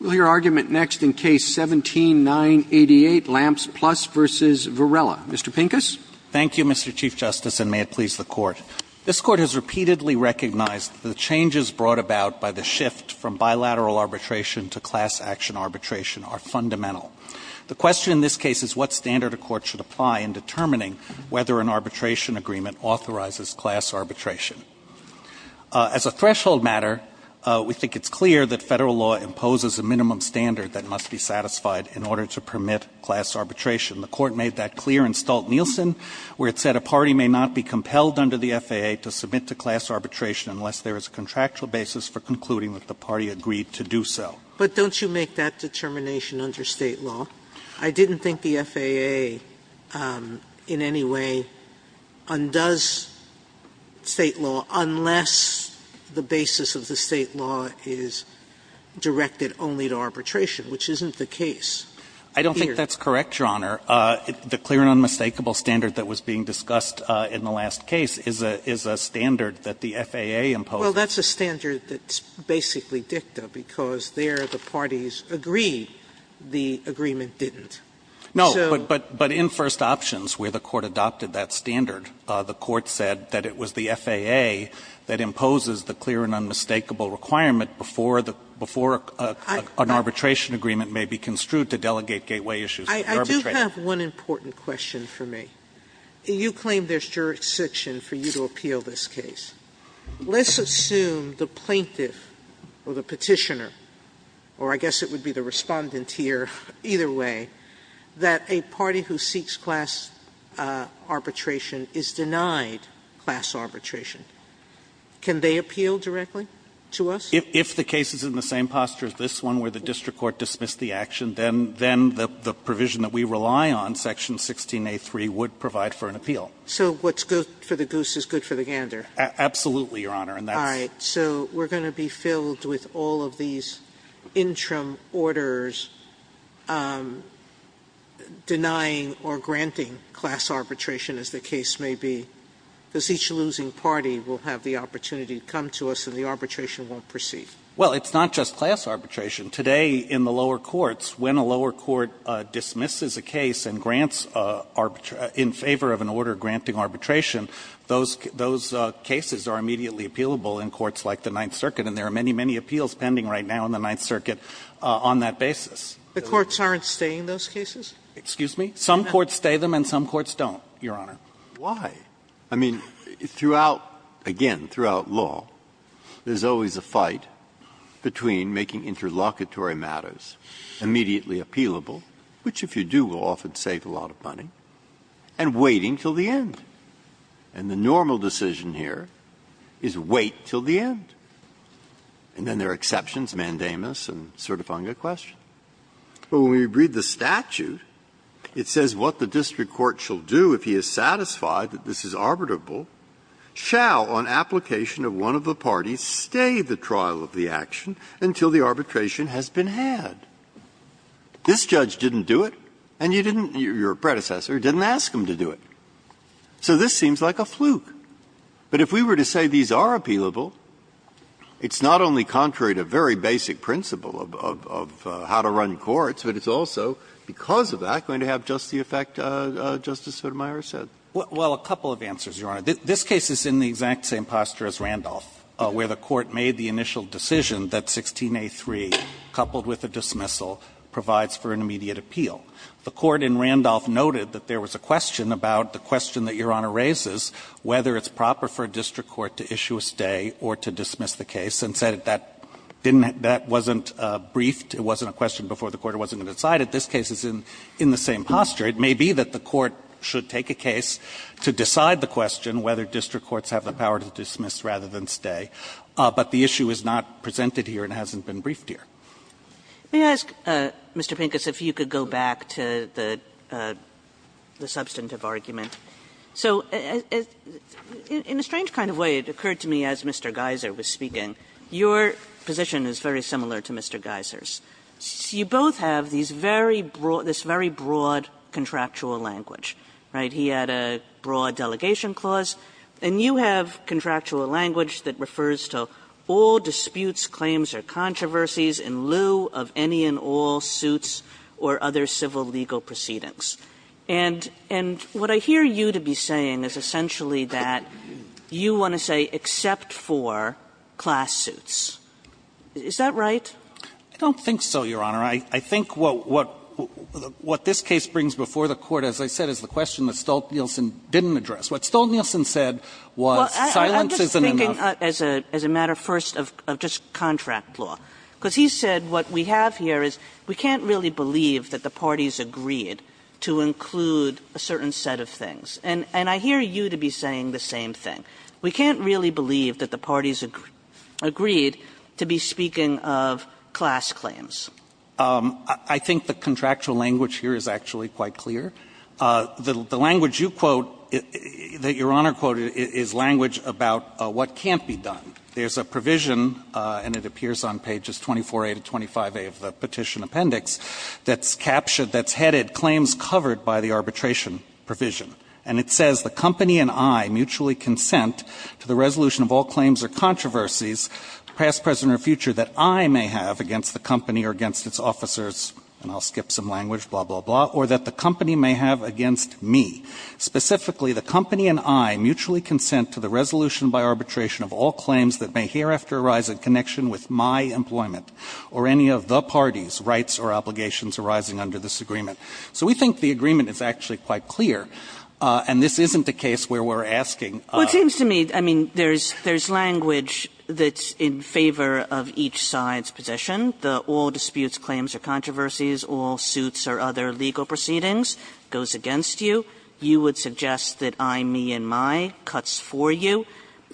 We'll hear argument next in Case 17-988, Lamps Plus v. Varela. Mr. Pincus. Thank you, Mr. Chief Justice, and may it please the Court. This Court has repeatedly recognized that the changes brought about by the shift from bilateral arbitration to class action arbitration are fundamental. The question in this case is what standard a court should apply in determining whether an arbitration agreement authorizes class arbitration. As a threshold matter, we think it's clear that Federal law imposes a minimum standard that must be satisfied in order to permit class arbitration. The Court made that clear in Stolt-Nielsen, where it said a party may not be compelled under the FAA to submit to class arbitration unless there is a contractual basis for concluding that the party agreed to do so. Sotomayor But don't you make that determination under State law? I didn't think the FAA in any way undoes State law unless the basis of the State law is directed only to arbitration, which isn't the case. Pincus I don't think that's correct, Your Honor. The clear and unmistakable standard that was being discussed in the last case is a standard that the FAA imposes. Sotomayor Well, that's a standard that's basically dicta, because there the parties agree the agreement didn't. Pincus No, but in First Options, where the Court adopted that standard, the Court said that it was the FAA that imposes the clear and unmistakable requirement before an arbitration agreement may be construed to delegate gateway issues to arbitration. Sotomayor I do have one important question for me. You claim there's jurisdiction for you to appeal this case. Let's assume the plaintiff or the Petitioner, or I guess it would be the Respondent here, either way, that a party who seeks class arbitration is denied class arbitration. Can they appeal directly to us? Pincus If the case is in the same posture as this one, where the district court dismissed the action, then the provision that we rely on, Section 16a3, would provide for an appeal. Sotomayor So what's good for the goose is good for the gander. Pincus Absolutely, Your Honor. And that's Sotomayor All right. So we're going to be filled with all of these interim orders denying or granting class arbitration, as the case may be, because each losing party will have the opportunity to come to us, and the arbitration won't proceed. Pincus Well, it's not just class arbitration. Today, in the lower courts, when a lower court dismisses a case and grants in favor of an order granting arbitration, those cases are immediately appealable in courts like the Ninth Circuit. And there are many, many appeals pending right now in the Ninth Circuit on that basis. Sotomayor The courts aren't staying those cases? Pincus Excuse me? Some courts stay them and some courts don't, Your Honor. Breyer Why? I mean, throughout, again, throughout law, there's always a fight between making interlocutory matters immediately appealable, which, if you do, will often save a lot of money, and waiting till the end. And the normal decision here is wait till the end. And then there are exceptions, mandamus and certifunga question. But when we read the statute, it says what the district court shall do if he is satisfied that this is arbitrable, shall, on application of one of the parties, stay the trial of the action until the arbitration has been had. This judge didn't do it, and you didn't, your predecessor, didn't ask him to do it. So this seems like a fluke. But if we were to say these are appealable, it's not only contrary to very basic principle of how to run courts, but it's also, because of that, going to have just the effect Justice Sotomayor said. Pincus Well, a couple of answers, Your Honor. This case is in the exact same posture as Randolph, where the court made the initial decision that 16A.3, coupled with a dismissal, provides for an immediate appeal. The court in Randolph noted that there was a question about the question that Your Honor raises, whether it's proper for a district court to issue a stay or to dismiss the case, and said that that wasn't briefed, it wasn't a question before the court wasn't going to decide it. This case is in the same posture. It may be that the court should take a case to decide the question whether district courts have the power to dismiss rather than stay. But the issue is not presented here and hasn't been briefed here. Kagan May I ask, Mr. Pincus, if you could go back to the substantive argument? So in a strange kind of way, it occurred to me as Mr. Geiser was speaking, your position is very similar to Mr. Geiser's. You both have these very broad – this very broad contractual language, right? He had a broad delegation clause, and you have contractual language that refers to all disputes, claims, or controversies in lieu of any and all suits or other civil legal proceedings. And what I hear you to be saying is essentially that you want to say except for class suits. Is that right? Pincus I don't think so, Your Honor. I think what this case brings before the Court, as I said, is the question that Stolt-Nielsen didn't address. What Stolt-Nielsen said was silence isn't enough. Kagan Well, I'm just thinking as a matter first of just contract law. Because he said what we have here is we can't really believe that the parties agreed to include a certain set of things. And I hear you to be saying the same thing. We can't really believe that the parties agreed to be speaking of class claims. Pincus I think the contractual language here is actually quite clear. The language you quote, that Your Honor quoted, is language about what can't be done. There's a provision, and it appears on pages 24a to 25a of the Petition Appendix, that's captured, that's headed, claims covered by the arbitration provision. And it says the company and I mutually consent to the resolution of all claims or controversies past, present, or future that I may have against the company or against its officers, and I'll skip some language, blah, blah, blah, or that the company may have against me. Specifically, the company and I mutually consent to the resolution by arbitration of all claims that may hereafter arise in connection with my employment or any of the party's rights or obligations arising under this agreement. So we think the agreement is actually quite clear. And this isn't a case where we're asking of I mean, there's language that's in favor of each side's position. The all disputes, claims, or controversies, all suits, or other legal proceedings goes against you. You would suggest that I, me, and my cuts for you.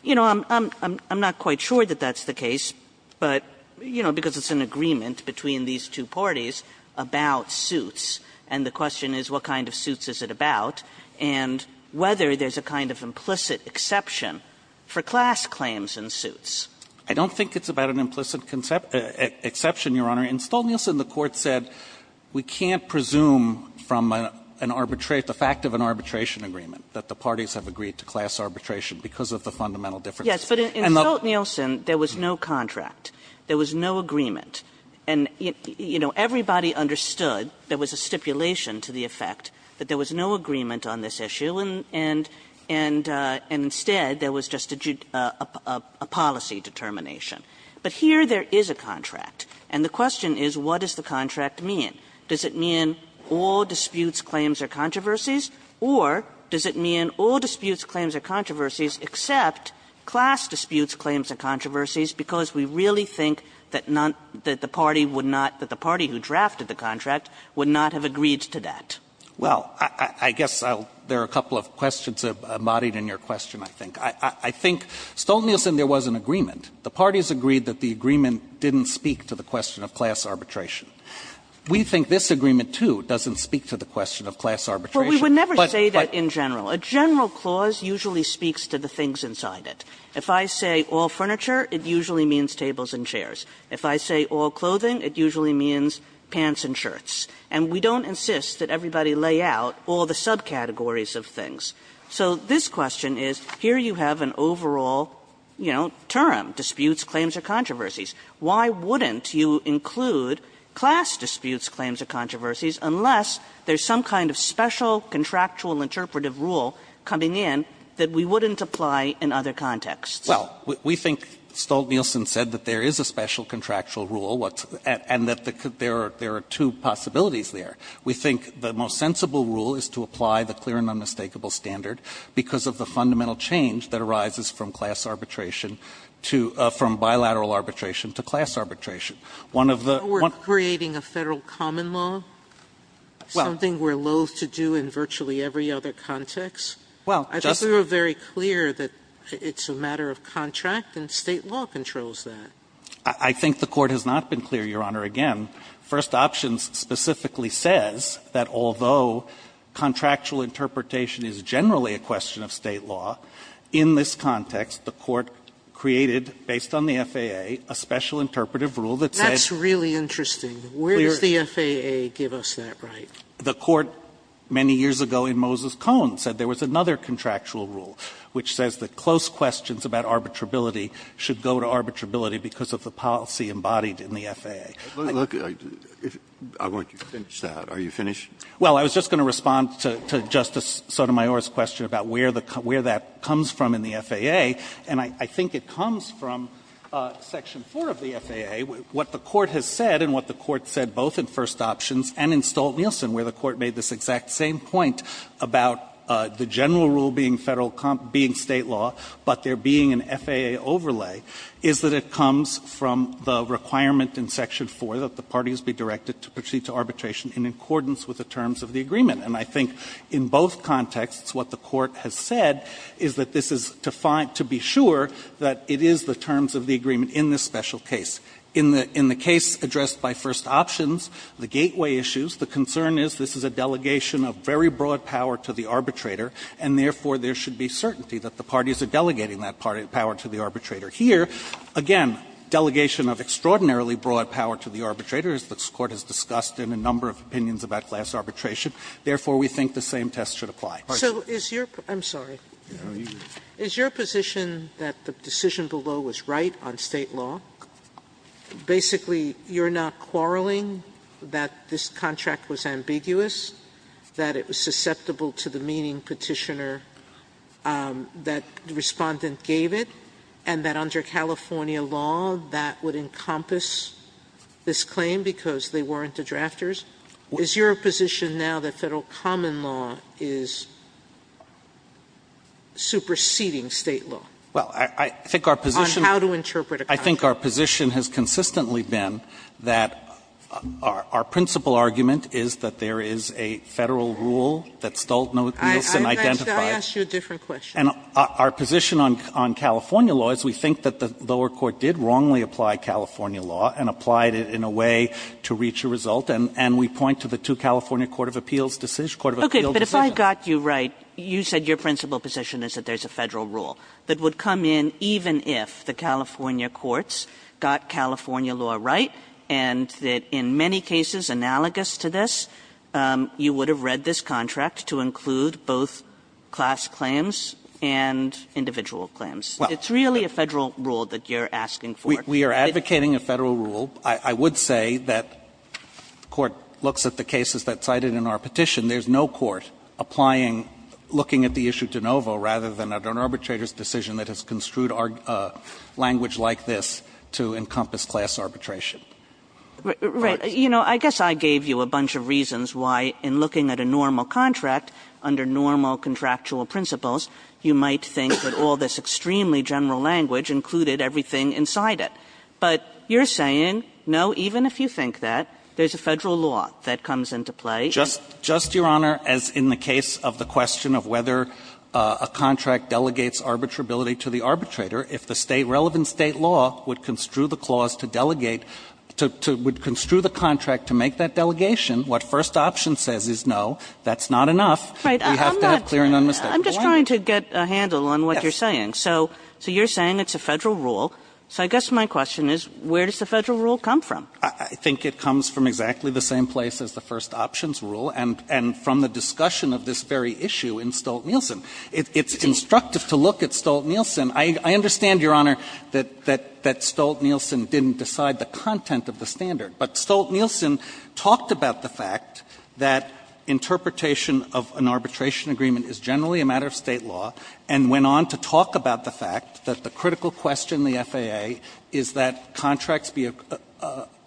You know, I'm not quite sure that that's the case, but, you know, because it's an agreement between these two parties about suits, and the question is what kind of suits is it about, and whether there's a kind of implicit exception for class claims in suits. I don't think it's about an implicit exception, Your Honor. In Stolt-Nielsen, the Court said we can't presume from an arbitration, the fact of an arbitration agreement, that the parties have agreed to class arbitration because of the fundamental difference. Yes, but in Stolt-Nielsen, there was no contract. There was no agreement. And, you know, everybody understood there was a stipulation to the effect that there was no agreement on this issue, and instead there was just a policy determination. But here there is a contract, and the question is what does the contract mean? Does it mean all disputes, claims, or controversies? Or does it mean all disputes, claims, or controversies, except class disputes, claims, or controversies, because we really think that the party would not, that the party who drafted the contract would not have agreed to that? Well, I guess there are a couple of questions embodied in your question, I think. I think Stolt-Nielsen, there was an agreement. The parties agreed that the agreement didn't speak to the question of class arbitration. We think this agreement, too, doesn't speak to the question of class arbitration. But we would never say that in general. A general clause usually speaks to the things inside it. If I say all furniture, it usually means tables and chairs. If I say all clothing, it usually means pants and shirts. And we don't insist that everybody lay out all the subcategories of things. So this question is, here you have an overall, you know, term, disputes, claims, or controversies. Why wouldn't you include class disputes, claims, or controversies, unless there's some kind of special contractual interpretive rule coming in that we wouldn't apply in other contexts? Well, we think Stolt-Nielsen said that there is a special contractual rule, and that there are two possibilities there. We think the most sensible rule is to apply the clear and unmistakable standard because of the fundamental change that arises from class arbitration to — from bilateral arbitration to class arbitration. One of the — Sotomayor, creating a Federal common law, something we're loathe to do in virtually every other context? Well, Justice — I think we were very clear that it's a matter of contract, and State law controls that. I think the Court has not been clear, Your Honor. Again, First Options specifically says that although contractual interpretation is generally a question of State law, in this context, the Court created, based on the FAA, a special interpretive rule that says — That's really interesting. Where does the FAA give us that right? The Court, many years ago in Moses Cone, said there was another contractual rule which says that close questions about arbitrability should go to arbitrability because of the policy embodied in the FAA. Look, I want you to finish that. Are you finished? Well, I was just going to respond to Justice Sotomayor's question about where that comes from in the FAA, and I think it comes from Section 4 of the FAA, what the Court has said and what the Court said both in First Options and in Stolt-Nielsen, where the Court made this exact same point about the general rule being Federal — being State law, but there being an FAA overlay, is that it comes from the requirement in Section 4 that the parties be directed to proceed to arbitration in accordance with the terms of the agreement, and I think in both contexts what the Court has said is that this is to be sure that it is the terms of the agreement in this special case. In the case addressed by First Options, the gateway issues, the concern is this is a question of the certainty that the parties are delegating that power to the arbitrator. Here, again, delegation of extraordinarily broad power to the arbitrator, as this Court has discussed in a number of opinions about class arbitration, therefore, we think the same test should apply. Sotomayor, I'm sorry. Is your position that the decision below was right on State law? Basically, you're not quarreling that this contract was ambiguous, that it was susceptible to the meaning Petitioner, that Respondent gave it, and that under California law that would encompass this claim because they weren't the drafters? Is your position now that Federal common law is superseding State law? Well, I think our position on how to interpret a contract. I think our position has consistently been that our principal argument is that there is a Federal rule that Stoltz and Nielsen identified. I'll ask you a different question. And our position on California law is we think that the lower court did wrongly apply California law and applied it in a way to reach a result. And we point to the two California court of appeals decisions, court of appeals decisions. Okay. But if I got you right, you said your principal position is that there's a Federal rule that would come in even if the California courts got California law right and that in many cases analogous to this, you would have read this contract to include both class claims and individual claims. It's really a Federal rule that you're asking for. We are advocating a Federal rule. I would say that court looks at the cases that cited in our petition. There's no court applying, looking at the issue de novo rather than an arbitrator's decision that has construed language like this to encompass class arbitration. Kagan. Right. You know, I guess I gave you a bunch of reasons why in looking at a normal contract under normal contractual principles, you might think that all this extremely general language included everything inside it. But you're saying, no, even if you think that, there's a Federal law that comes into play. Just to your Honor, as in the case of the question of whether a contract delegates arbitrability to the arbitrator, if the relevant State law would construe the clause to delegate, to construe the contract to make that delegation, what first option says is no, that's not enough. We have to have clear and unmistakable argument. I'm just trying to get a handle on what you're saying. So you're saying it's a Federal rule. So I guess my question is, where does the Federal rule come from? I think it comes from exactly the same place as the first options rule and from the discussion of this very issue in Stolt-Nielsen. It's instructive to look at Stolt-Nielsen. I understand, Your Honor, that Stolt-Nielsen didn't decide the content of the standard. But Stolt-Nielsen talked about the fact that interpretation of an arbitration agreement is generally a matter of State law and went on to talk about the fact that the critical question in the FAA is that contracts be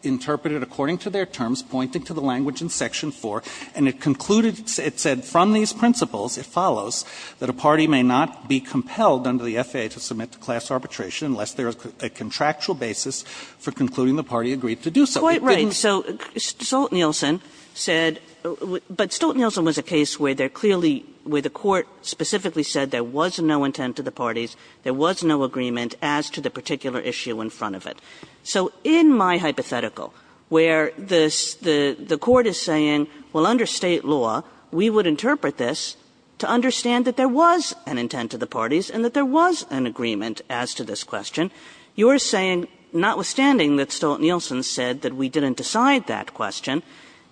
interpreted according to their terms, pointing to the language in Section 4. And it concluded, it said, from these principles, it follows, that a party may not be compelled under the FAA to submit to class arbitration unless there is a contractual basis for concluding the party agreed to do so. It didn't do that. Kagan. So Stolt-Nielsen said, but Stolt-Nielsen was a case where they're clearly, where the Court specifically said there was no intent to the parties, there was no agreement as to the particular issue in front of it. So in my hypothetical, where the Court is saying, well, under State law, we would interpret this to understand that there was an intent to the parties and that there was an agreement as to this question, you're saying, notwithstanding that Stolt-Nielsen said that we didn't decide that question,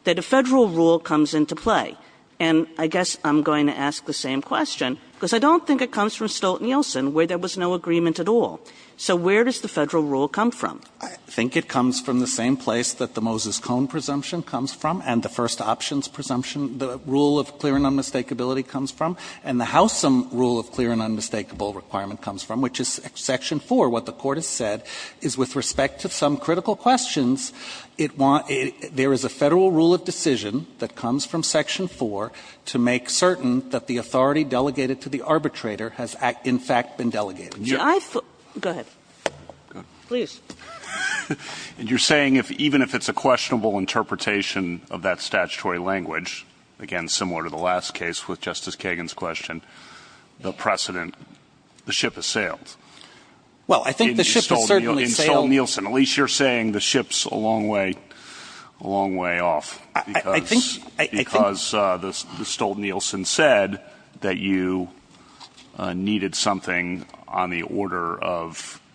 that a Federal rule comes into play. And I guess I'm going to ask the same question, because I don't think it comes from Stolt-Nielsen where there was no agreement at all. So where does the Federal rule come from? I think it comes from the same place that the Moses Cone presumption comes from and the first options presumption, the rule of clear and unmistakability comes from, and the Howsam rule of clear and unmistakable requirement comes from, which is Section 4. What the Court has said is with respect to some critical questions, it wants to – there is a Federal rule of decision that comes from Section 4 to make certain that the authority delegated to the arbitrator has, in fact, been delegated. Kagan. I thought – go ahead. Please. And you're saying if – even if it's a questionable interpretation of that statutory language, again, similar to the last case with Justice Kagan's question, the precedent – the ship has sailed. Well, I think the ship has certainly sailed. In Stolt-Nielsen. At least you're saying the ship's a long way – a long way off. I think – Because the Stolt-Nielsen said that you needed something on the order of –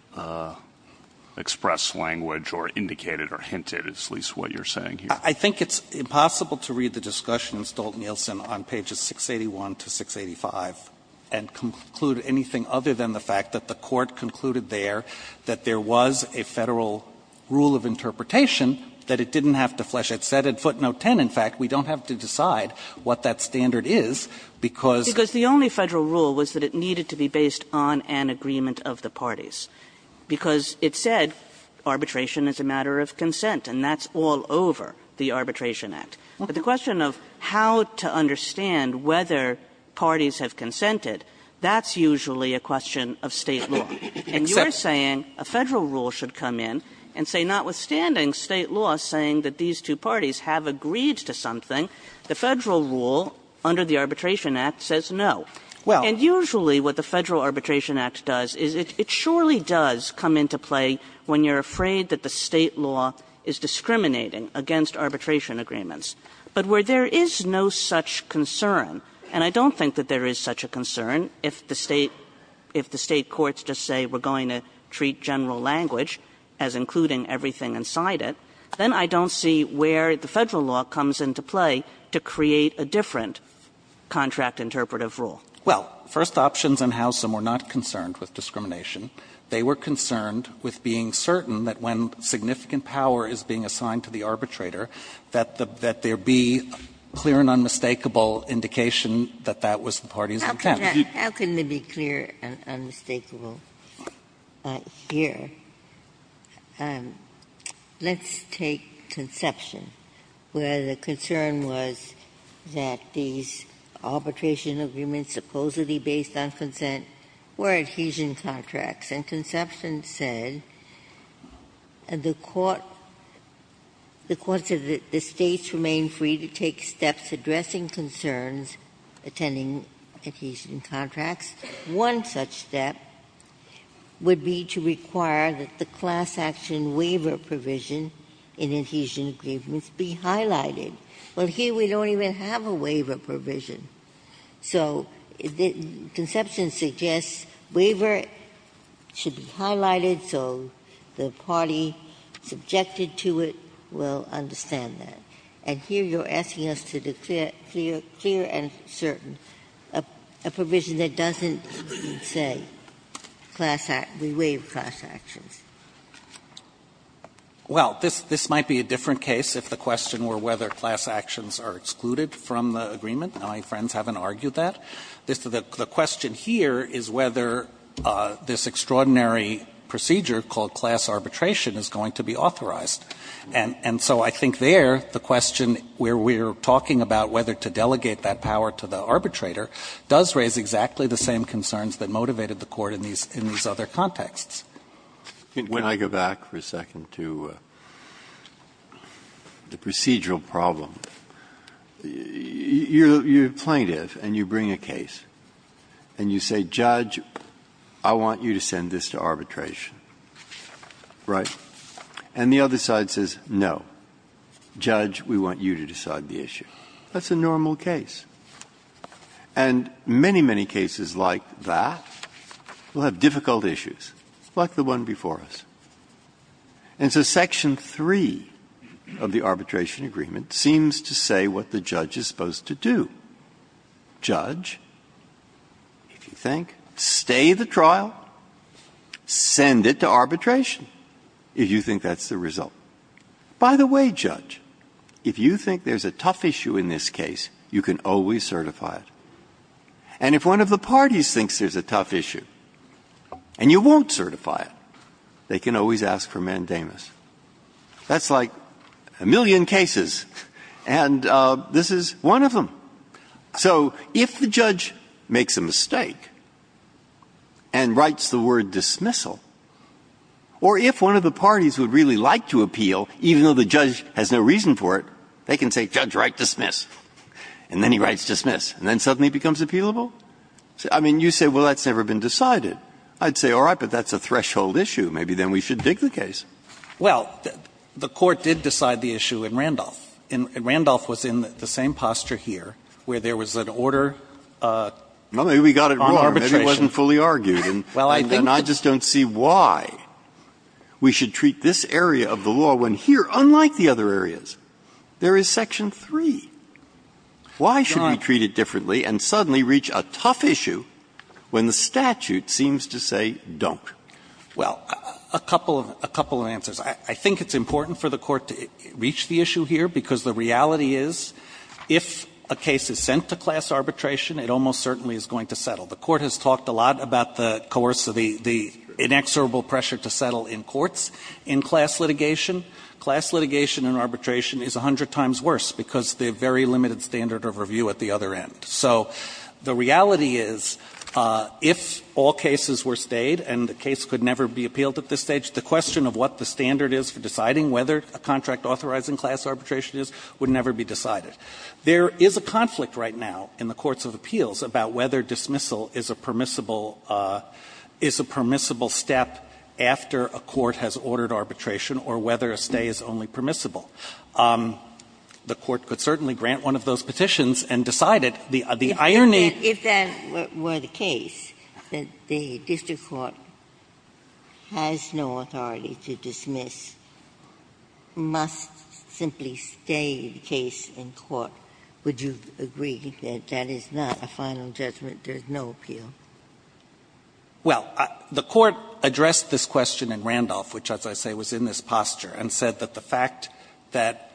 express language or indicate it or hint it, is at least what you're saying here. I think it's impossible to read the discussions, Stolt-Nielsen, on pages 681 to 685 and conclude anything other than the fact that the Court concluded there that there was a Federal rule of interpretation that it didn't have to flesh. It said at footnote 10, in fact, we don't have to decide what that standard is, because – Because the only Federal rule was that it needed to be based on an agreement of the parties. Because it said arbitration is a matter of consent, and that's all over the Arbitration Act. But the question of how to understand whether parties have consented, that's usually a question of State law. And you're saying a Federal rule should come in and say, notwithstanding State law saying that these two parties have agreed to something, the Federal rule under the Arbitration Act says no. And usually what the Federal Arbitration Act does is it surely does come into play when you're afraid that the State law is discriminating against arbitration agreements. But where there is no such concern, and I don't think that there is such a concern if the State – if the State courts just say we're going to treat general language as including everything inside it, then I don't see where the Federal law comes into play to create a different contract interpretive rule. Well, First Options and Howsam were not concerned with discrimination. They were concerned with being certain that when significant power is being assigned to the arbitrator, that there be clear and unmistakable indication that that was the party's intent. Ginsburg. How can that be clear and unmistakable? Ginsburg. Let's take Conception, where the concern was that these arbitration agreements supposedly based on consent were adhesion contracts. And Conception said, and the Court – the Court said that the States remain free to take steps addressing concerns attending adhesion contracts. One such step would be to require that the class action waiver provision in adhesion agreements be highlighted. Well, here we don't even have a waiver provision. So Conception suggests waiver should be highlighted so the party subjected to it will understand that. And here you're asking us to declare clear and certain, a provision that doesn't say class – we waive class actions. Well, this might be a different case if the question were whether class actions are excluded from the agreement. My friends haven't argued that. The question here is whether this extraordinary procedure called class arbitration is going to be authorized. And so I think there the question where we're talking about whether to delegate that power to the arbitrator does raise exactly the same concerns that motivated the Court in these other contexts. Breyer. Can I go back for a second to the procedural problem? You're a plaintiff and you bring a case and you say, judge, I want you to send this to arbitration, right? And the other side says, no, judge, we want you to decide the issue. That's a normal case. And many, many cases like that will have difficult issues, like the one before us. And so section 3 of the arbitration agreement seems to say what the judge is supposed to do. Judge, if you think, stay the trial, send it to arbitration. If you think that's the result. By the way, judge, if you think there's a tough issue in this case, you can always certify it. And if one of the parties thinks there's a tough issue and you won't certify it, they can always ask for mandamus. That's like a million cases, and this is one of them. So if the judge makes a mistake and writes the word dismissal, or if the judge writes dismiss, or if one of the parties would really like to appeal, even though the judge has no reason for it, they can say, judge, write dismiss, and then he writes dismiss, and then suddenly it becomes appealable? I mean, you say, well, that's never been decided. I'd say, all right, but that's a threshold issue. Maybe then we should dig the case. Well, the Court did decide the issue in Randolph. And Randolph was in the same posture here, where there was an order on arbitration. Breyer. But it wasn't fully argued, and I just don't see why we should treat this area of the law when here, unlike the other areas, there is Section 3. Why should we treat it differently and suddenly reach a tough issue when the statute seems to say don't? Well, a couple of answers. I think it's important for the Court to reach the issue here, because the reality is, if a case is sent to class arbitration, it almost certainly is going to settle. The Court has talked a lot about the coercive, the inexorable pressure to settle in courts in class litigation. Class litigation in arbitration is 100 times worse, because the very limited standard of review at the other end. So the reality is, if all cases were stayed and the case could never be appealed at this stage, the question of what the standard is for deciding whether a contract authorizing class arbitration is would never be decided. There is a conflict right now in the courts of appeals about whether dismissal is a permissible step after a court has ordered arbitration or whether a stay is only permissible. The Court could certainly grant one of those petitions and decide it. The irony of that is that if that were the case, that the district court has no authority to dismiss, must simply stay the case in court. Would you agree that that is not a final judgment, there is no appeal? Well, the Court addressed this question in Randolph, which, as I say, was in this posture, and said that the fact that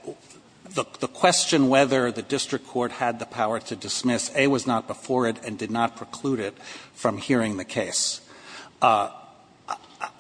the question whether the district court had the power to dismiss, A, was not before it and did not preclude it from hearing the case.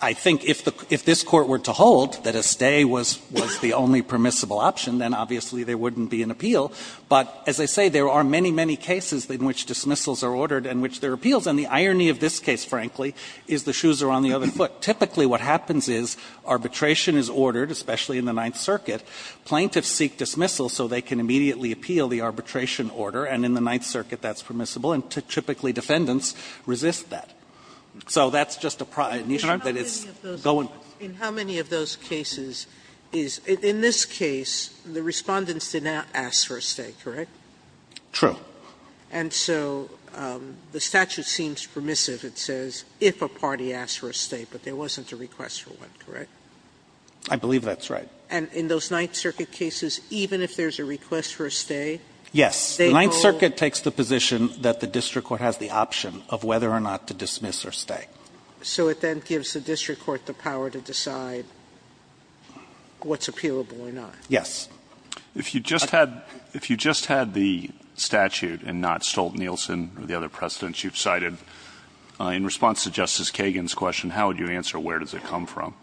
I think if this Court were to hold that a stay was the only permissible option, then obviously there wouldn't be an appeal. But as I say, there are many, many cases in which dismissals are ordered and in which there are appeals. And the irony of this case, frankly, is the shoes are on the other foot. Typically what happens is arbitration is ordered, especially in the Ninth Circuit. Plaintiffs seek dismissal so they can immediately appeal the arbitration order, and in the Ninth Circuit that's permissible, and typically defendants resist that. So that's just an issue that is going on. Sotomayor, in how many of those cases is, in this case, the Respondents did not ask for a stay, correct? True. And so the statute seems permissive. It says if a party asks for a stay, but there wasn't a request for one, correct? I believe that's right. And in those Ninth Circuit cases, even if there's a request for a stay, they go? Yes. The Ninth Circuit takes the position that the district court has the option of whether or not to dismiss or stay. So it then gives the district court the power to decide what's appealable or not? Yes. If you just had the statute and not Stolt-Nielsen or the other precedents you've cited, in response to Justice Kagan's question, how would you answer where does it come from?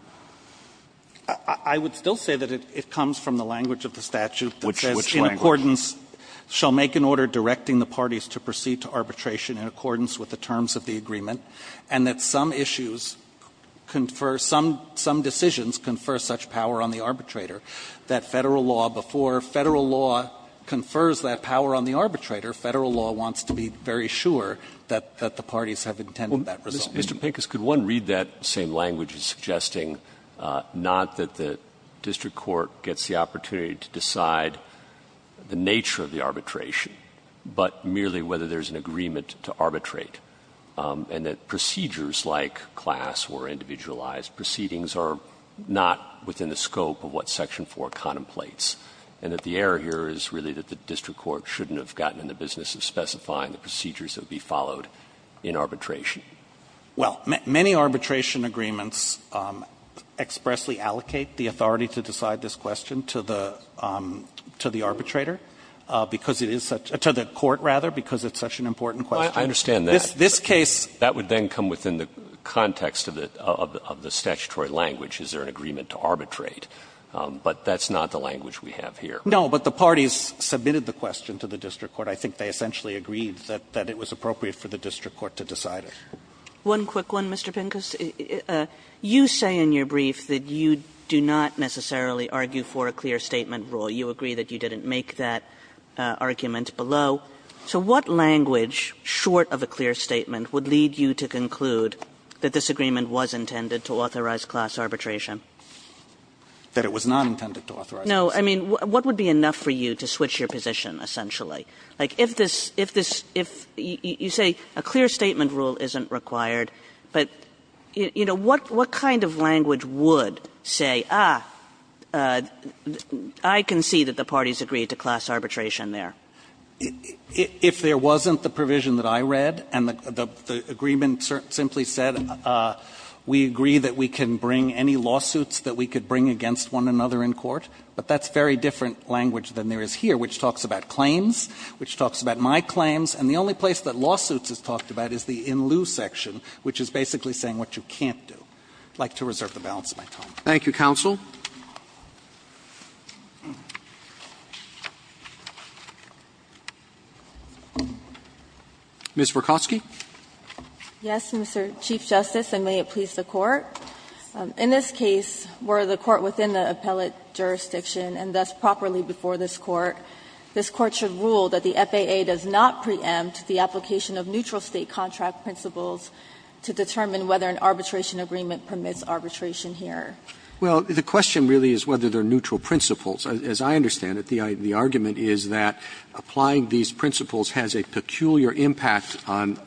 I would still say that it comes from the language of the statute that says, in accordance shall make an order directing the parties to proceed to arbitration in accordance with the terms of the agreement, and that some issues confer, some decisions confer such power on the arbitrator that Federal law, before Federal law confers that power on the arbitrator, Federal law wants to be very sure that the parties have intended that result. Mr. Pincus, could one read that same language as suggesting not that the district court gets the opportunity to decide the nature of the arbitration, but merely whether there's an agreement to arbitrate, and that procedures like class or individualized proceedings are not within the scope of what section 4 contemplates, and that the error here is really that the district court shouldn't have gotten in the business of specifying the procedures that would be followed in arbitration? Well, many arbitration agreements expressly allocate the authority to decide this is it such an important question? Well, I understand that. This case, that would then come within the context of the statutory language. Is there an agreement to arbitrate? But that's not the language we have here. No, but the parties submitted the question to the district court. I think they essentially agreed that it was appropriate for the district court to decide it. One quick one, Mr. Pincus. You say in your brief that you do not necessarily argue for a clear statement rule. You agree that you didn't make that argument below. So what language, short of a clear statement, would lead you to conclude that this agreement was intended to authorize class arbitration? That it was not intended to authorize class arbitration. No, I mean, what would be enough for you to switch your position, essentially? Like, if this – if this – if you say a clear statement rule isn't required, but, you know, what kind of language would say, ah, I concede that the parties agreed to class arbitration there? If there wasn't the provision that I read and the agreement simply said, we agree that we can bring any lawsuits that we could bring against one another in court, but that's very different language than there is here, which talks about claims, which talks about my claims, and the only place that lawsuits is talked about is the in-lieu section, which is basically saying what you can't do. I'd like to reserve the balance of my time. Roberts Thank you, counsel. Ms. Verkosky. Verkosky Yes, Mr. Chief Justice, and may it please the Court. In this case, were the court within the appellate jurisdiction and thus properly before this Court, this Court should rule that the FAA does not preempt the application of neutral State contract principles to determine whether an arbitration agreement permits arbitration here? Roberts Well, the question really is whether they are neutral principles. As I understand it, the argument is that applying these principles has a peculiar impact on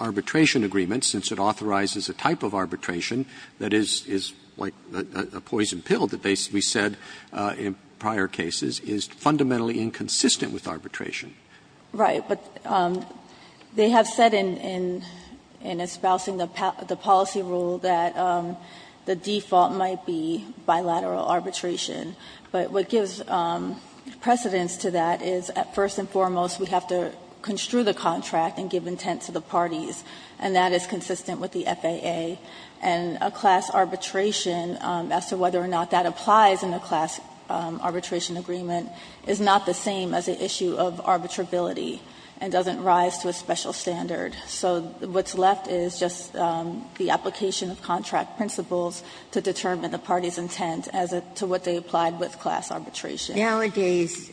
arbitration agreements, since it authorizes a type of arbitration that is like a poison pill that basically said in prior cases is fundamentally inconsistent with arbitration. Verkosky Right. But they have said in espousing the policy rule that the default might be bilateral arbitration, but what gives precedence to that is, first and foremost, we have to construe the contract and give intent to the parties, and that is consistent with the FAA. And a class arbitration, as to whether or not that applies in a class arbitration agreement, is not the same as an issue of arbitrability and doesn't rise to a special standard. So what's left is just the application of contract principles to determine the parties' intent as to what they applied with class arbitration. Ginsburg Nowadays,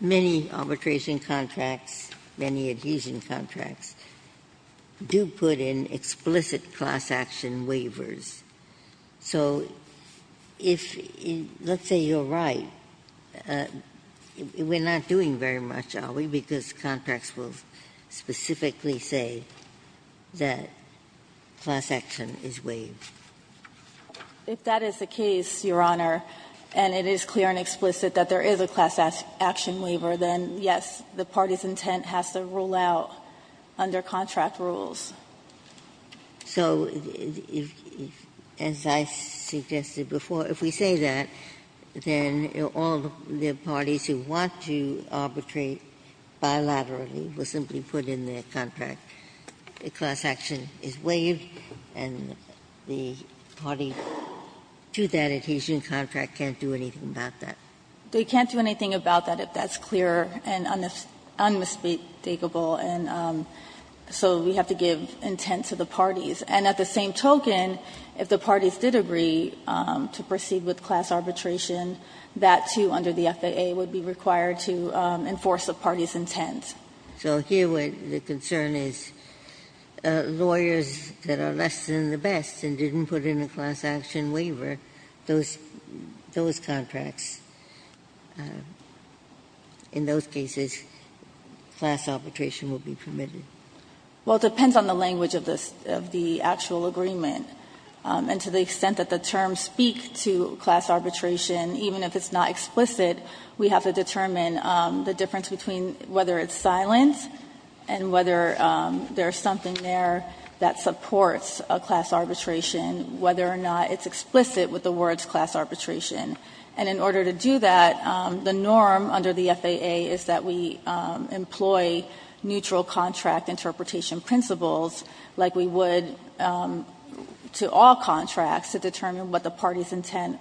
many arbitration contracts, many adhesion contracts, do put in explicit class action waivers. So if, let's say you're right, we're not doing very much, are we, because contracts will specifically say that class action is waived? Verkosky If that is the case, Your Honor, and it is clear and explicit that there is a class action waiver, then, yes, the parties' intent has to rule out under contract rules. Ginsburg So if, as I suggested before, if we say that, then all the parties who want to arbitrate bilaterally will simply put in their contract, class action is waived, and the party to that adhesion contract can't do anything about that? Verkosky They can't do anything about that if that's clear and unmistakable. And so we have to give intent to the parties. And at the same token, if the parties did agree to proceed with class arbitration, that, too, under the FAA, would be required to enforce the parties' intent. Ginsburg So here, the concern is lawyers that are less than the best and didn't put in a class action waiver, those contracts, in those cases, class arbitration would be permitted? Verkosky Well, it depends on the language of the actual agreement. And to the extent that the terms speak to class arbitration, even if it's not explicit, we have to determine the difference between whether it's silent and whether there is something there that supports a class arbitration, whether or not it's explicit with the words class arbitration. And in order to do that, the norm under the FAA is that we employ neutral contract interpretation principles like we would to all contracts to determine what the party's intent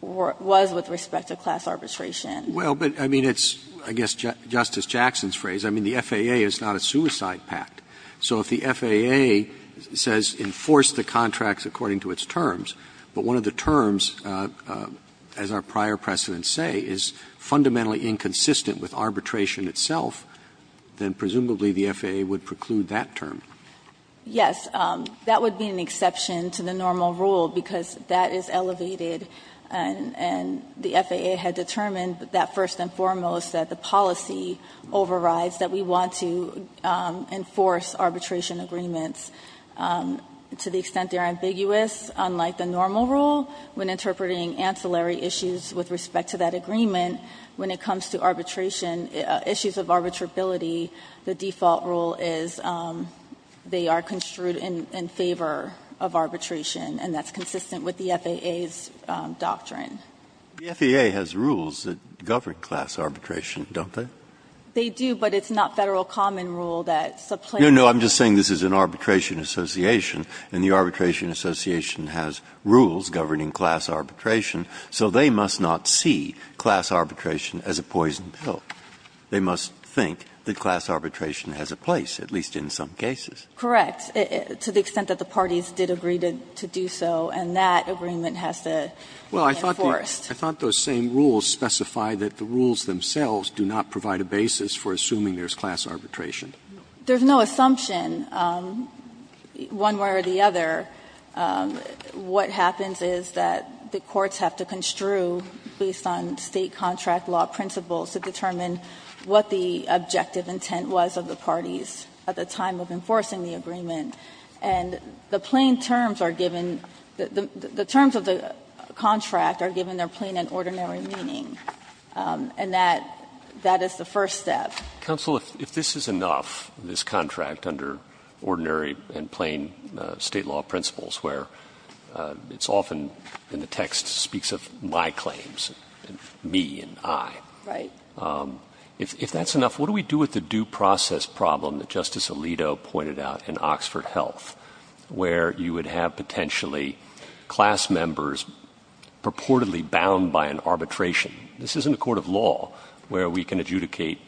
was with respect to class arbitration. Roberts' Well, but, I mean, it's, I guess, Justice Jackson's phrase. I mean, the FAA is not a suicide pact. So if the FAA says enforce the contracts according to its terms, but one of the terms is, as our prior precedents say, is fundamentally inconsistent with arbitration itself, then presumably the FAA would preclude that term. Verkosky Yes, that would be an exception to the normal rule, because that is elevated and the FAA had determined that first and foremost that the policy overrides that we want to enforce arbitration agreements. To the extent they are ambiguous, unlike the normal rule, when interpreting ancillary issues with respect to that agreement, when it comes to arbitration, issues of arbitrability, the default rule is they are construed in favor of arbitration, and that's consistent with the FAA's doctrine. Breyer The FAA has rules that govern class arbitration, don't they? Verkosky They do, but it's not Federal common rule that supplants the rule. Breyer No, no, I'm just saying this is an arbitration association, and the arbitration association has rules governing class arbitration, so they must not see class arbitration as a poison pill. They must think that class arbitration has a place, at least in some cases. Verkosky Correct, to the extent that the parties did agree to do so, and that agreement has to be enforced. Roberts I thought those same rules specify that the rules themselves do not provide a basis for assuming there is class arbitration. Verkosky There is no assumption one way or the other. What happens is that the courts have to construe, based on State contract law principles, to determine what the objective intent was of the parties at the time of enforcing the agreement. And the plain terms are given the terms of the contract are given their plain and ordinary meaning, and that is the first step. Roberts Counsel, if this is enough, this contract under ordinary and plain State law principles, where it's often in the text speaks of my claims, me and I, if that's enough, what do we do with the due process problem that Justice Alito pointed out in Oxford Health, where you would have potentially class members purportedly bound by an arbitration? This isn't a court of law where we can adjudicate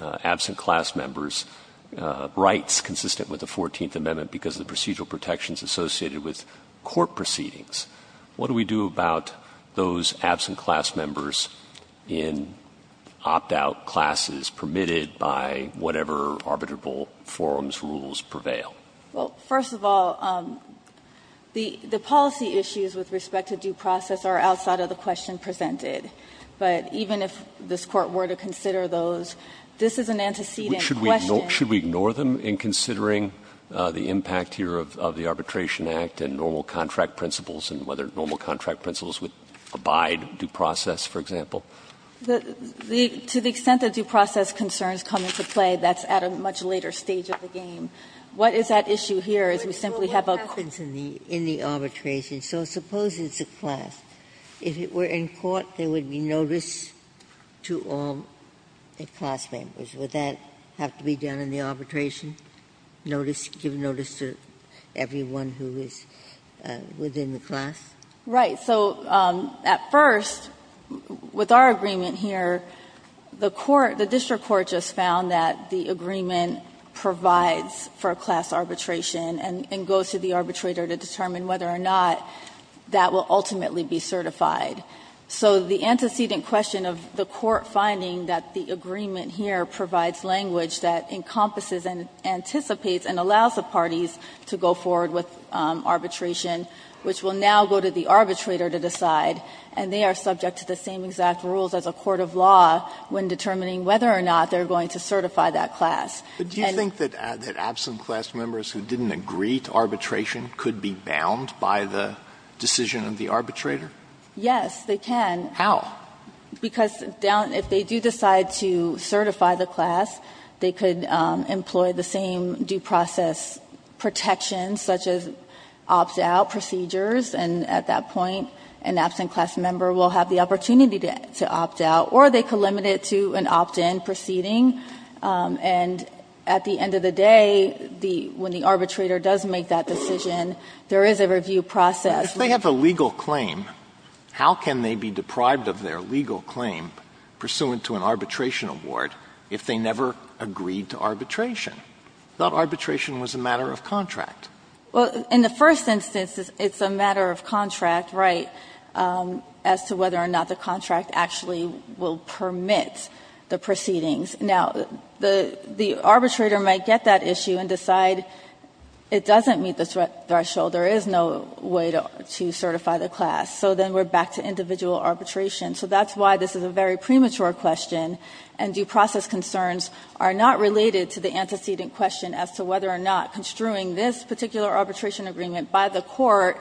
absent class members' rights consistent with the Fourteenth Amendment because of the procedural protections associated with court proceedings. What do we do about those absent class members in opt-out classes permitted by whatever arbitrable forms, rules prevail? Verkosky Well, first of all, the policy issues with respect to due process are outside of the question presented. But even if this Court were to consider those, this is an antecedent question. Roberts Counsel, should we ignore them in considering the impact here of the Arbitration Act and normal contract principles and whether normal contract principles would abide due process, for example? Verkosky To the extent that due process concerns come into play, that's at a much later stage of the game. What is at issue here is we simply have a court's opinion. Ginsburg And there would be notice to all the class members. Would that have to be done in the arbitration, notice, give notice to everyone who is within the class? Verkosky Right. So at first, with our agreement here, the court, the district court just found that the agreement provides for a class arbitration and goes to the arbitrator to determine whether or not that will ultimately be certified. So the antecedent question of the court finding that the agreement here provides language that encompasses and anticipates and allows the parties to go forward with arbitration, which will now go to the arbitrator to decide, and they are subject to the same exact rules as a court of law when determining whether or not they are going to certify that class. Alito But do you think that absent class members who didn't agree to arbitration could be bound by the decision of the arbitrator? Verkosky Yes, they can. Alito How? Verkosky Because if they do decide to certify the class, they could employ the same due process protections such as opt-out procedures, and at that point an absent class member will have the opportunity to opt out, or they could limit it to an opt-in proceeding. And at the end of the day, when the arbitrator does make that decision, there is a review process. Alito If they have a legal claim, how can they be deprived of their legal claim pursuant to an arbitration award if they never agreed to arbitration? I thought arbitration was a matter of contract. Verkosky Well, in the first instance, it's a matter of contract, right, as to whether or not the contract actually will permit the proceedings. Now, the arbitrator might get that issue and decide it doesn't meet the threshold. There is no way to certify the class. So then we're back to individual arbitration. So that's why this is a very premature question, and due process concerns are not related to the antecedent question as to whether or not construing this particular arbitration agreement by the court,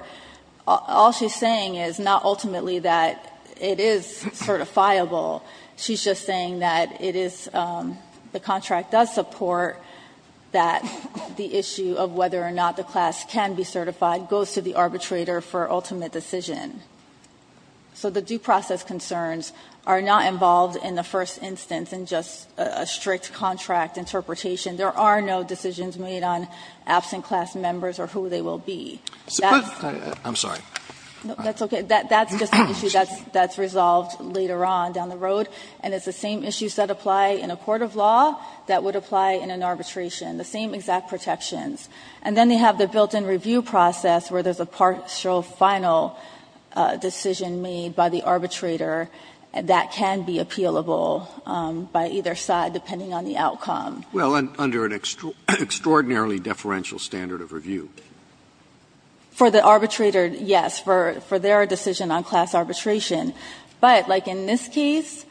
all she's saying is not ultimately that it is certifiable. She's just saying that it is the contract does support that the issue of whether or not the class can be certified goes to the arbitrator for ultimate decision. So the due process concerns are not involved in the first instance in just a strict contract interpretation. There are no decisions made on absent class members or who they will be. That's the issue that's resolved later on down the road, and it's the same issues that apply in a court of law that would apply in an arbitration, the same exact protections. And then they have the built-in review process where there's a partial final decision made by the arbitrator that can be appealable by either side, depending on the outcome. Scalia, under an extraordinarily deferential standard of review. For the arbitrator, yes, for their decision on class arbitration. But like in this case,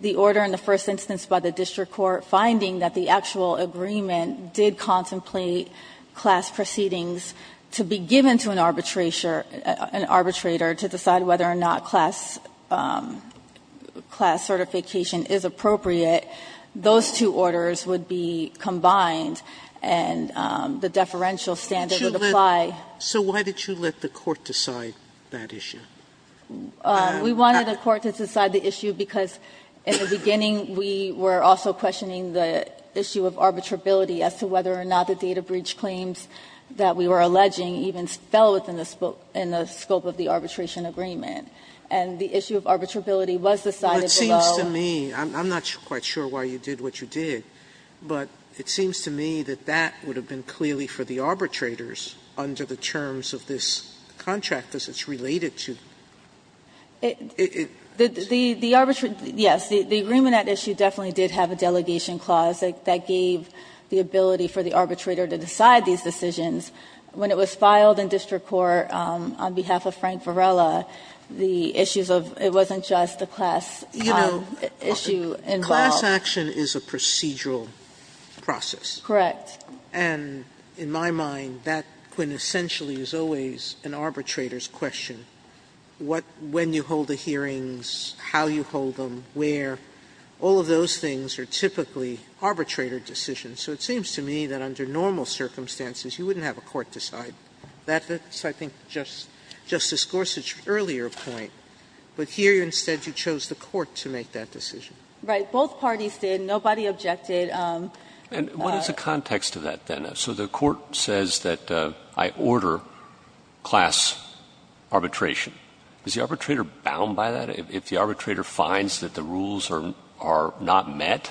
the order in the first instance by the district court finding that the actual agreement did contemplate class proceedings to be given to an arbitrator to decide whether or not class certification is appropriate, those two orders would be combined, and the deferential standard would apply. Sotomayor, so why did you let the court decide that issue? We wanted the court to decide the issue because in the beginning we were also questioning the issue of arbitrability as to whether or not the data breach claims that we were alleging even fell within the scope of the arbitration agreement. And the issue of arbitrability was decided below. Sotomayor, I'm not quite sure why you did what you did, but it seems to me that that would have been clearly for the arbitrators under the terms of this contract, as it's related to. The arbitration, yes, the Ruminant issue definitely did have a delegation clause that gave the ability for the arbitrator to decide these decisions. When it was filed in district court on behalf of Frank Varela, the issues of it wasn't just a class issue involved. Sotomayor, class action is a procedural process. Correct. And in my mind, that quintessentially is always an arbitrator's question. What – when you hold the hearings, how you hold them, where, all of those things are typically arbitrator decisions. So it seems to me that under normal circumstances, you wouldn't have a court decide. That's, I think, Justice Gorsuch's earlier point. But here, instead, you chose the court to make that decision. Right. Both parties did. Nobody objected. And what is the context of that, then? So the court says that I order class arbitration. Is the arbitrator bound by that? If the arbitrator finds that the rules are not met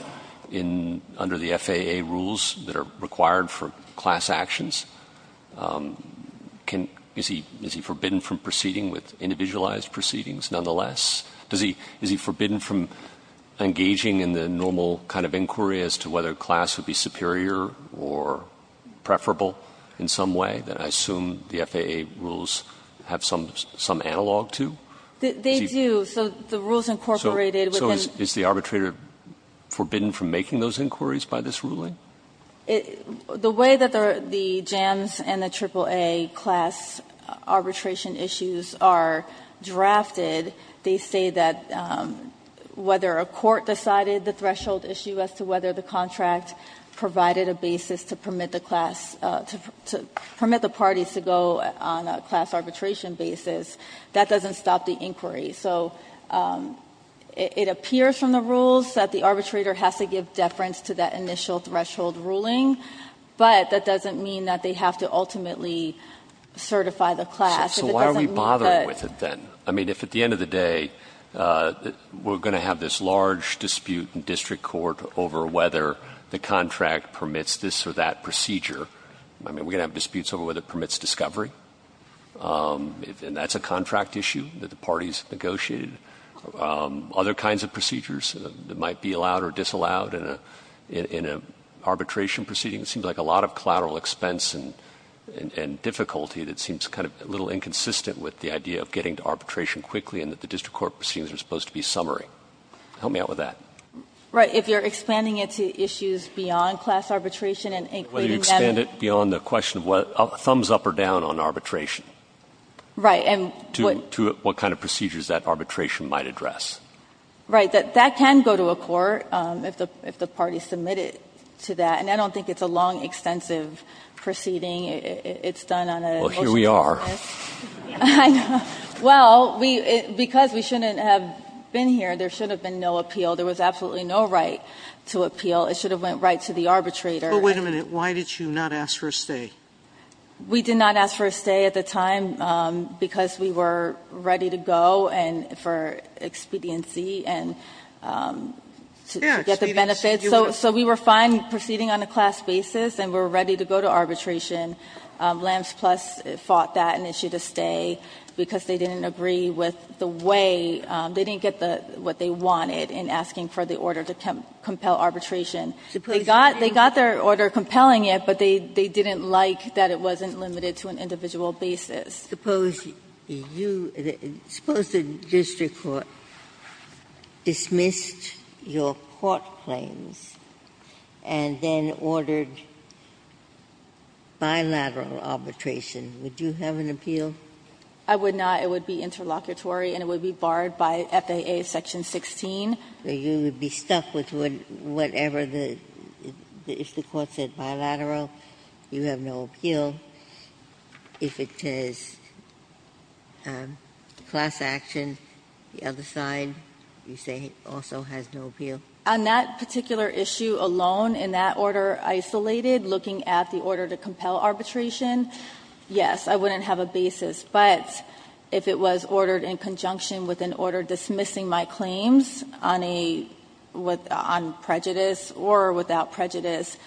in – under the FAA rules that are required for class actions, can – is he – is he forbidden from proceeding with individualized proceedings, nonetheless? Does he – is he forbidden from engaging in the normal kind of inquiry as to whether a class would be superior or preferable in some way that I assume the FAA rules have some – some analog to? They do. So the rules incorporated within – So is the arbitrator forbidden from making those inquiries by this ruling? The way that the JAMS and the AAA class arbitration issues are drafted, they say that whether a court decided the threshold issue as to whether the contract provided a basis to permit the class – to permit the parties to go on a class arbitration basis, that doesn't stop the inquiry. So it appears from the rules that the arbitrator has to give deference to that initial threshold ruling, but that doesn't mean that they have to ultimately certify the class. If it doesn't mean that – So why are we bothering with it, then? I mean, if at the end of the day we're going to have this large dispute in district court over whether the contract permits this or that procedure, I mean, we're going to have disputes over whether it permits discovery, and that's a contract issue that the parties negotiated, other kinds of procedures that might be allowed or disallowed in a – in an arbitration proceeding. It seems like a lot of collateral expense and difficulty that seems kind of a little inconsistent with the idea of getting to arbitration quickly and that the district court proceedings are supposed to be summary. Help me out with that. Right. If you're expanding it to issues beyond class arbitration and including them – Whether you expand it beyond the question of what – thumbs up or down on arbitration. Right. And what – To what kind of procedures that arbitration might address. Right. That can go to a court if the – if the parties submit it to that. And I don't think it's a long, extensive proceeding. It's done on a – Well, here we are. I know. Well, we – because we shouldn't have been here, there should have been no appeal. There was absolutely no right to appeal. It should have went right to the arbitrator. But wait a minute. Why did you not ask for a stay? We did not ask for a stay at the time because we were ready to go and for expediency and to get the benefits. So we were fine proceeding on a class basis, and we were ready to go to arbitration. Lambs Plus fought that and issued a stay because they didn't agree with the way – they didn't get the – what they wanted in asking for the order to compel arbitration. They got – they got their order compelling it, but they didn't like that it wasn't limited to an individual basis. Suppose you – suppose the district court dismissed your court claims and then ordered bilateral arbitration. Would you have an appeal? I would not. It would be interlocutory, and it would be barred by FAA Section 16. You would be stuck with whatever the – if the court said bilateral, you have no appeal. If it is class action, the other side, you say also has no appeal? On that particular issue alone, in that order isolated, looking at the order to compel arbitration, yes, I wouldn't have a basis. But if it was ordered in conjunction with an order dismissing my claims on a – on or without prejudice,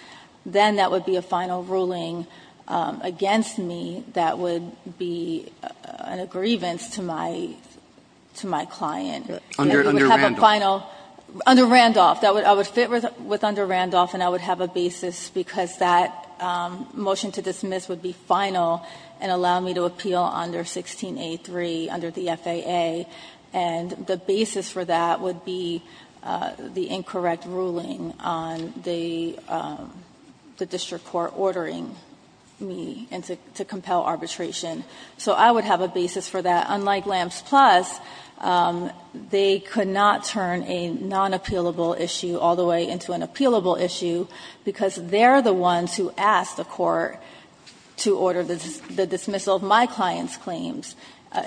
then that would be a final ruling against me that would be a grievance to my – to my client. Under Randolph. Under Randolph. I would fit with under Randolph, and I would have a basis because that motion to dismiss would be final and allow me to appeal under 16A3, under the FAA, and the basis for that would be the incorrect ruling on the district court ordering me to compel arbitration. So I would have a basis for that. Unlike Lamps Plus, they could not turn a non-appealable issue all the way into an appealable issue because they're the ones who asked the court to order the dismissal of my client's claims.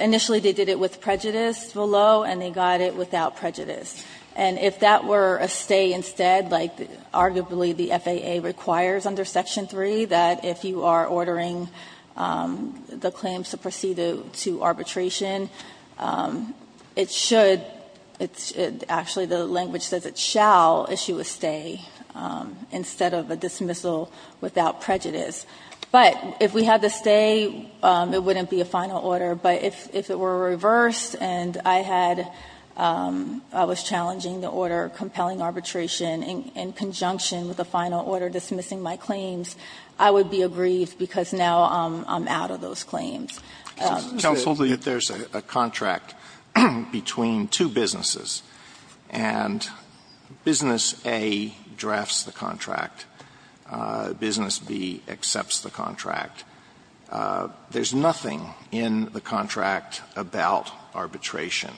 Initially, they did it with prejudice below, and they got it without prejudice. And if that were a stay instead, like arguably the FAA requires under Section 3 that if you are ordering the claims to proceed to arbitration, it should – it should – actually, the language says it shall issue a stay instead of a dismissal without prejudice. But if we had the stay, it wouldn't be a final order. But if it were reversed and I had – I was challenging the order of compelling arbitration in conjunction with the final order dismissing my claims, I would be aggrieved because now I'm out of those claims. Alito, there's a contract between two businesses, and Business A drafts the contract. Business B accepts the contract. There's nothing in the contract about arbitration.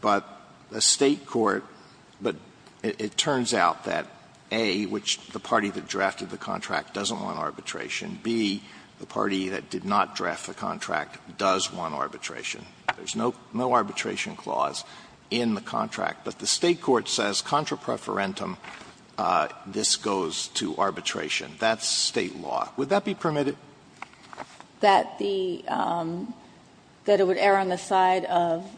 But the State court – but it turns out that, A, which the party that drafted the contract doesn't want arbitration, B, the party that did not draft the contract does want arbitration. There's no arbitration clause in the contract. But the State court says contra preferentum, this goes to arbitration. That's State law. Would that be permitted? That the – that it would err on the side of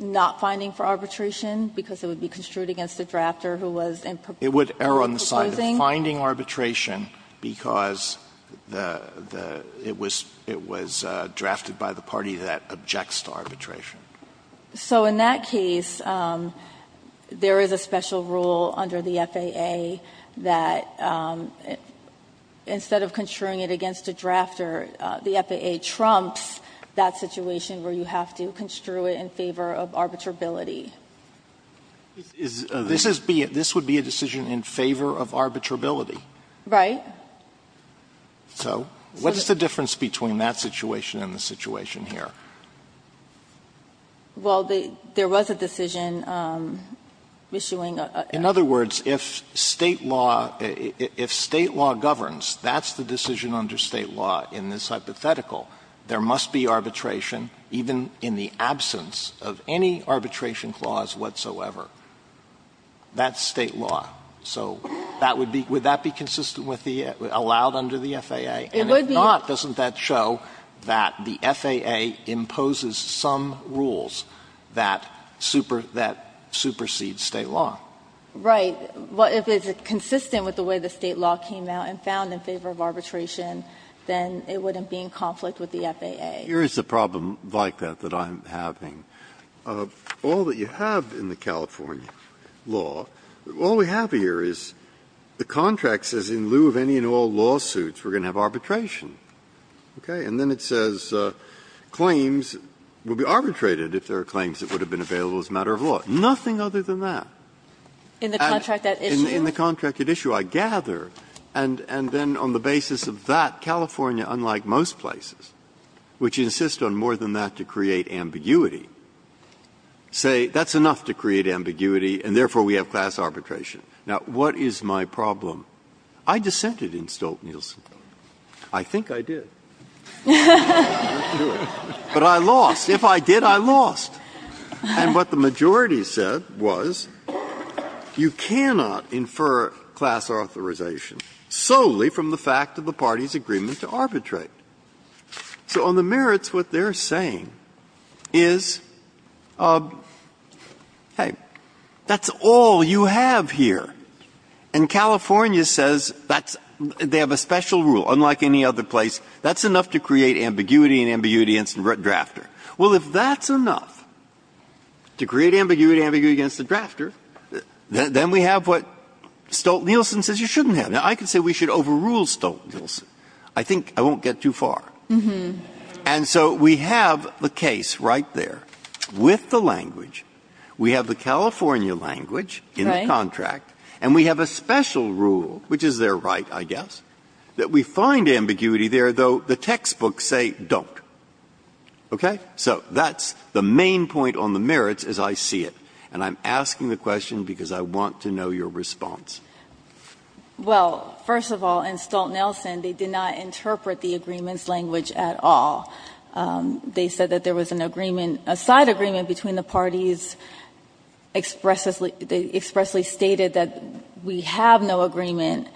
not finding for arbitration because it would be construed against the drafter who was in proposing. It would err on the side of finding arbitration because the – it was drafted by the party that objects to arbitration. So in that case, there is a special rule under the FAA that instead of construing it against a drafter, the FAA trumps that situation where you have to construe it in favor of arbitrability. This is – this would be a decision in favor of arbitrability. Right. So what is the difference between that situation and the situation here? Well, the – there was a decision issuing a – In other words, if State law – if State law governs, that's the decision under State law in this hypothetical. There must be arbitration, even in the absence of any arbitration clause whatsoever. That's State law. So that would be – would that be consistent with the – allowed under the FAA? It would be. If not, doesn't that show that the FAA imposes some rules that super – that supersede State law? Right. If it's consistent with the way the State law came out and found in favor of arbitration, then it wouldn't be in conflict with the FAA. Here is the problem like that that I'm having. All that you have in the California law, all we have here is the contract says in lieu of any and all lawsuits, we're going to have arbitration, okay? And then it says claims will be arbitrated if there are claims that would have been available as a matter of law. Nothing other than that. In the contract that issued? In the contract that issued, I gather, and then on the basis of that, California, unlike most places, which insist on more than that to create ambiguity, say that's enough to create ambiguity, and therefore we have class arbitration. Now, what is my problem? I dissented in Stolt-Nielsen. I think I did. But I lost. If I did, I lost. And what the majority said was you cannot infer class authorization solely from the fact of the party's agreement to arbitrate. So on the merits, what they're saying is, hey, that's all you have here. And California says that's they have a special rule, unlike any other place, that's enough to create ambiguity and ambiguity against the drafter. Well, if that's enough to create ambiguity and ambiguity against the drafter, then we have what Stolt-Nielsen says you shouldn't have. Now, I could say we should overrule Stolt-Nielsen. I think I won't get too far. And so we have the case right there with the language. We have the California language in the contract. And we have a special rule, which is their right, I guess, that we find ambiguity there, though the textbooks say don't. Okay? So that's the main point on the merits as I see it. And I'm asking the question because I want to know your response. Well, first of all, in Stolt-Nielsen, they did not interpret the agreements language at all. They said that there was an agreement, a side agreement between the parties, and the arbitrators expressly stated that we have no agreement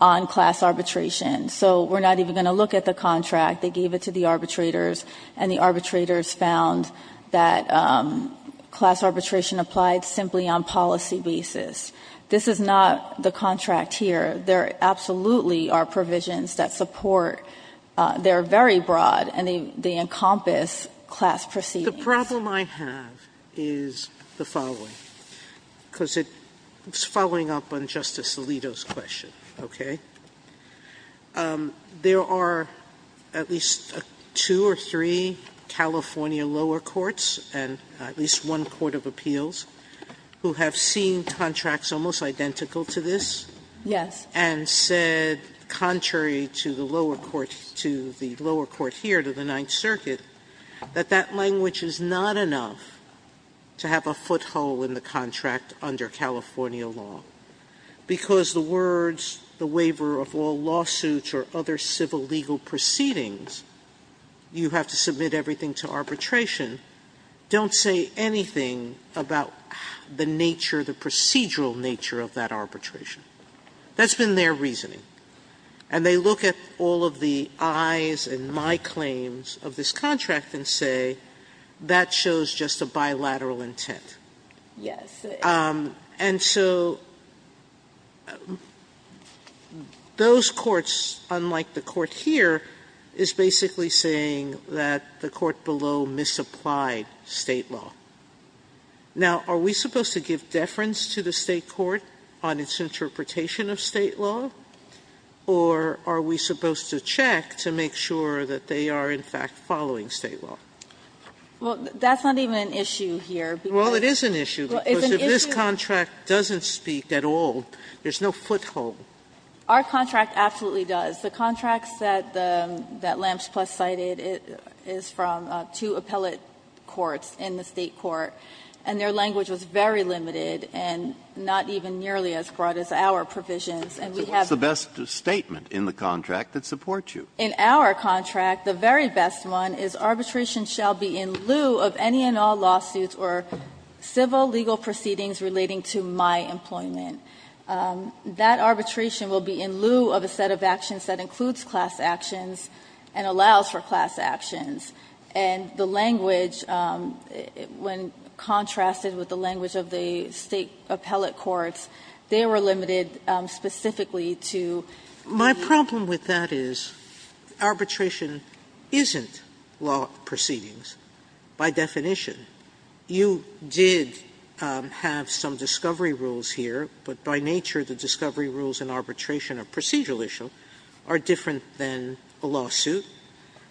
on class arbitration. So we're not even going to look at the contract. They gave it to the arbitrators, and the arbitrators found that class arbitration applied simply on policy basis. This is not the contract here. There absolutely are provisions that support. They're very broad, and they encompass class proceedings. Sotomayor, the problem I have is the following, because it's following up on Justice Alito's question, okay? There are at least two or three California lower courts and at least one court of appeals who have seen contracts almost identical to this and said, contrary to the lower court here, to the Ninth Circuit, that that language is not enough to have a foothold in the contract under California law. Because the words, the waiver of all lawsuits or other civil legal proceedings, you have to submit everything to arbitration, don't say anything about the nature, the procedural nature of that arbitration. That's been their reasoning. And they look at all of the I's and my claims of this contract and say, that shows just a bilateral intent. And so those courts, unlike the court here, is basically saying that the court below misapplied State law. Now, are we supposed to give deference to the State court on its interpretation of State law? Or are we supposed to check to make sure that they are, in fact, following State law? Well, that's not even an issue here, because if this contract doesn't speak at all, there's no foothold. Our contract absolutely does. The contracts that LAMPS plus cited is from two appellate courts in the State court, and their language was very limited and not even nearly as broad as our provisions. And we have to do that. Breyer, what's the best statement in the contract that supports you? In our contract, the very best one is arbitration shall be in lieu of any and all lawsuits or civil legal proceedings relating to my employment. That arbitration will be in lieu of a set of actions that includes class actions and allows for class actions. And the language, when contrasted with the language of the State appellate courts, they were limited specifically to the law. My problem with that is arbitration isn't law proceedings by definition. You did have some discovery rules here, but by nature, the discovery rules in arbitration or procedural issue are different than a lawsuit.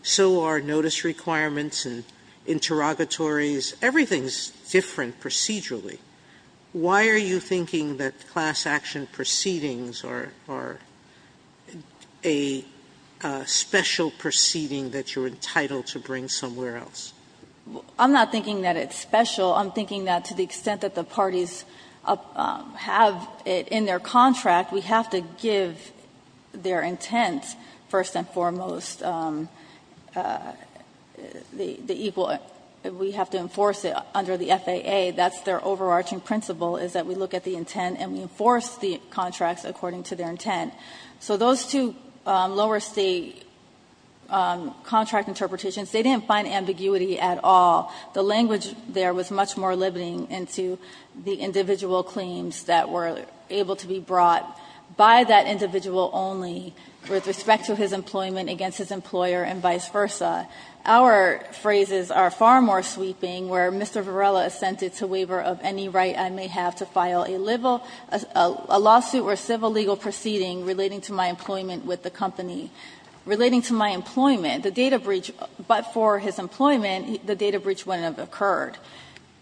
So are notice requirements and interrogatories. Everything is different procedurally. Why are you thinking that class action proceedings are a special proceeding that you're entitled to bring somewhere else? I'm not thinking that it's special. I'm thinking that to the extent that the parties have it in their contract, we have to give their intent, first and foremost, the equal we have to enforce it under the FAA. That's their overarching principle, is that we look at the intent and we enforce the contracts according to their intent. So those two lower State contract interpretations, they didn't find ambiguity at all. The language there was much more limiting into the individual claims that were able to be brought by that individual only with respect to his employment against his employer and vice versa. Our phrases are far more sweeping, where Mr. Varela assented to waiver of any right I may have to file a lawsuit or a civil legal proceeding relating to my employment with the company. Relating to my employment, the data breach, but for his employment, the data breach wouldn't have occurred.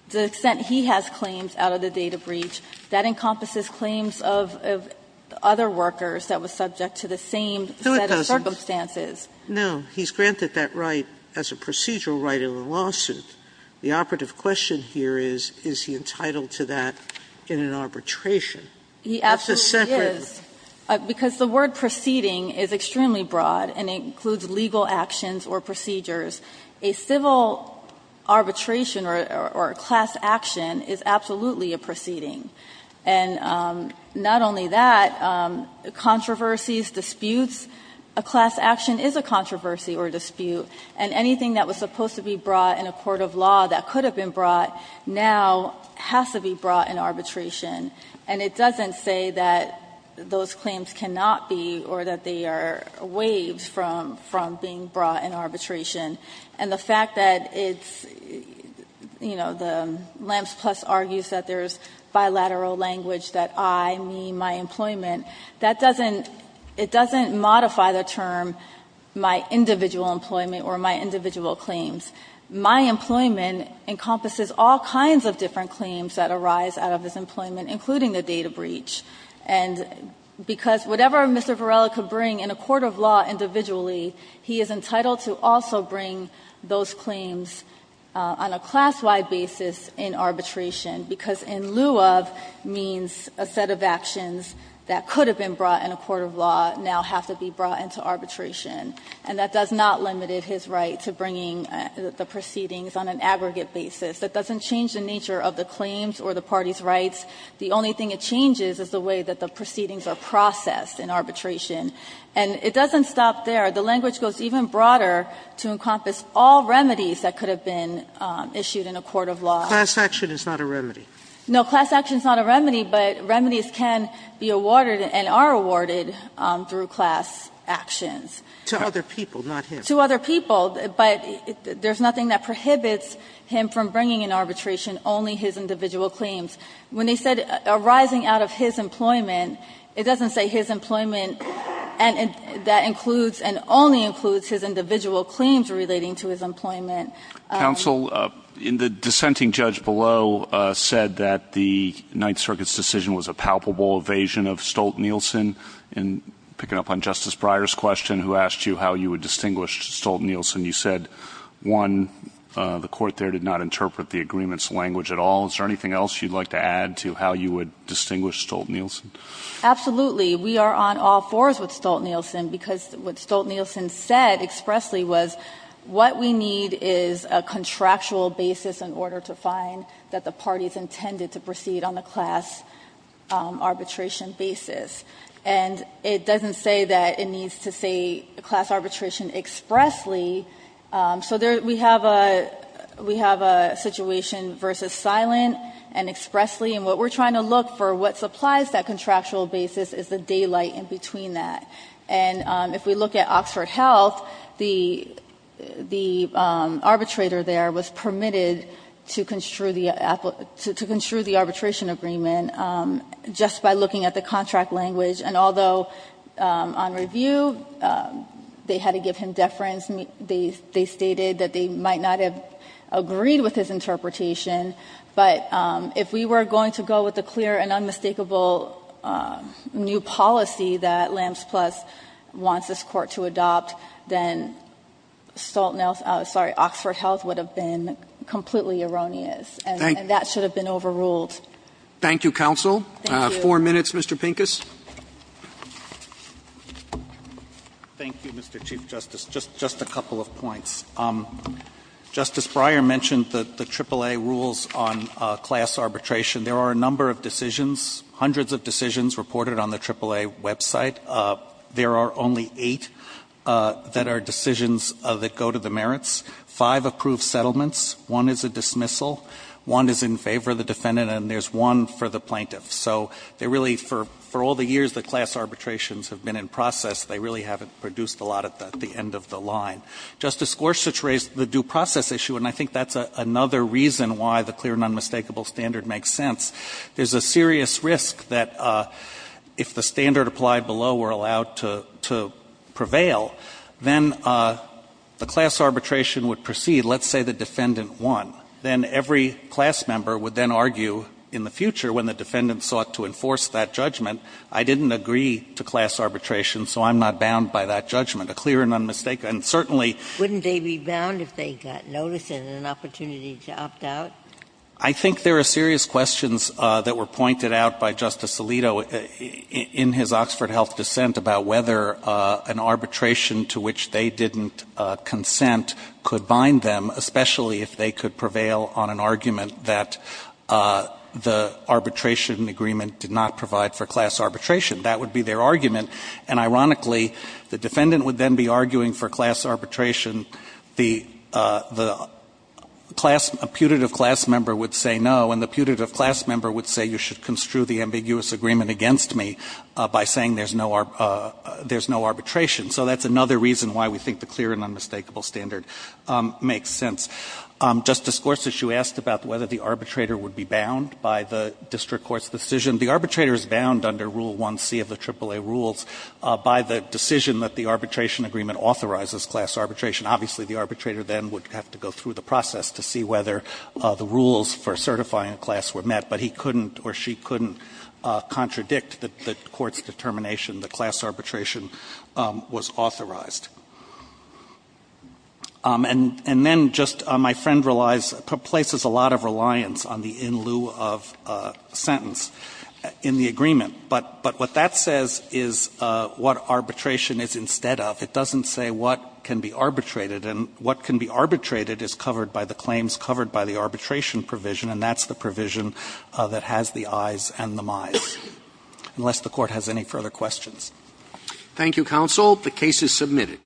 To the extent he has claims out of the data breach, that encompasses claims of other workers that were subject to the same set of circumstances. Sotomayor, he's granted that right as a procedural right in the lawsuit. The operative question here is, is he entitled to that in an arbitration? That's a separate. He absolutely is, because the word ''proceeding'' is extremely broad, and it includes legal actions or procedures. A civil arbitration or a class action is absolutely a proceeding. And not only that, controversies, disputes, a class action is a controversy or a dispute, and anything that was supposed to be brought in a court of law that could have been brought now has to be brought in arbitration. And it doesn't say that those claims cannot be, or that they are waived from being brought in arbitration. And the fact that it's, you know, the LAMPS plus argues that there's bilateral language that I, me, my employment, that doesn't, it doesn't modify the term ''my individual employment'' or ''my individual claims.'' My employment encompasses all kinds of different claims that arise out of his employment, including the data breach. And because whatever Mr. Varela could bring in a court of law individually, he is entitled to also bring those claims on a class-wide basis in arbitration, because ''in lieu of'' means a set of actions that could have been brought in a court of law now have to be brought into arbitration. And that does not limit his right to bringing the proceedings on an aggregate basis. That doesn't change the nature of the claims or the parties' rights. The only thing it changes is the way that the proceedings are processed in arbitration. And it doesn't stop there. The language goes even broader to encompass all remedies that could have been issued in a court of law. Sotomayor, Class action is not a remedy. No, class action is not a remedy, but remedies can be awarded and are awarded through class actions. To other people, not him. To other people, but there's nothing that prohibits him from bringing in arbitration only his individual claims. When they said ''arising out of his employment'' it doesn't say his employment and that includes and only includes his individual claims relating to his employment. Counsel, the dissenting judge below said that the Ninth Circuit's decision was a palpable evasion of Stolt-Nielsen. And picking up on Justice Breyer's question who asked you how you would distinguish Stolt-Nielsen, you said, one, the court there did not interpret the agreement's language at all. Is there anything else you'd like to add to how you would distinguish Stolt-Nielsen? Absolutely. We are on all fours with Stolt-Nielsen, because what Stolt-Nielsen said expressly was what we need is a contractual basis in order to find that the parties intended to proceed on the class arbitration basis. And it doesn't say that it needs to say class arbitration expressly. So there we have a we have a situation versus silent and expressly, and what we're And if we look at Oxford Health, the arbitrator there was permitted to construe the arbitration agreement just by looking at the contract language. And although on review, they had to give him deference, they stated that they might not have agreed with his interpretation, but if we were going to go with the clear and unmistakable new policy that Lambs Plus wants this Court to adopt, then Stolt- Nielsen, I'm sorry, Oxford Health would have been completely erroneous. And that should have been overruled. Thank you, counsel. Four minutes, Mr. Pincus. Thank you, Mr. Chief Justice. Just a couple of points. Justice Breyer mentioned the AAA rules on class arbitration. There are a number of decisions, hundreds of decisions reported on the AAA website. There are only eight that are decisions that go to the merits. Five approved settlements. One is a dismissal. One is in favor of the defendant, and there's one for the plaintiff. So they really, for all the years that class arbitrations have been in process, they really haven't produced a lot at the end of the line. Justice Gorsuch raised the due process issue, and I think that's another reason why the clear and unmistakable standard makes sense. There's a serious risk that if the standard applied below were allowed to prevail, then the class arbitration would proceed. Let's say the defendant won. Then every class member would then argue in the future when the defendant sought to enforce that judgment, I didn't agree to class arbitration, so I'm not bound by that judgment. A clear and unmistakable, and certainly- I think there are serious questions that were pointed out by Justice Alito in his Oxford Health dissent about whether an arbitration to which they didn't consent could bind them, especially if they could prevail on an argument that the arbitration agreement did not provide for class arbitration. That would be their argument, and ironically, the defendant would then be arguing for class arbitration, the class- a putative class member would say no, and the putative class member would say you should construe the ambiguous agreement against me by saying there's no- there's no arbitration. So that's another reason why we think the clear and unmistakable standard makes sense. Justice Gorsuch, you asked about whether the arbitrator would be bound by the district court's decision. The arbitrator is bound under Rule 1C of the AAA rules by the decision that the court authorizes class arbitration. Obviously, the arbitrator then would have to go through the process to see whether the rules for certifying a class were met, but he couldn't or she couldn't contradict the court's determination that class arbitration was authorized. And then just my friend relies-places a lot of reliance on the in lieu of sentence in the agreement, but what that says is what arbitration is instead of, it doesn't say what can be arbitrated. And what can be arbitrated is covered by the claims covered by the arbitration provision, and that's the provision that has the ayes and the mayes, unless the court has any further questions. Thank you, counsel. The case is submitted.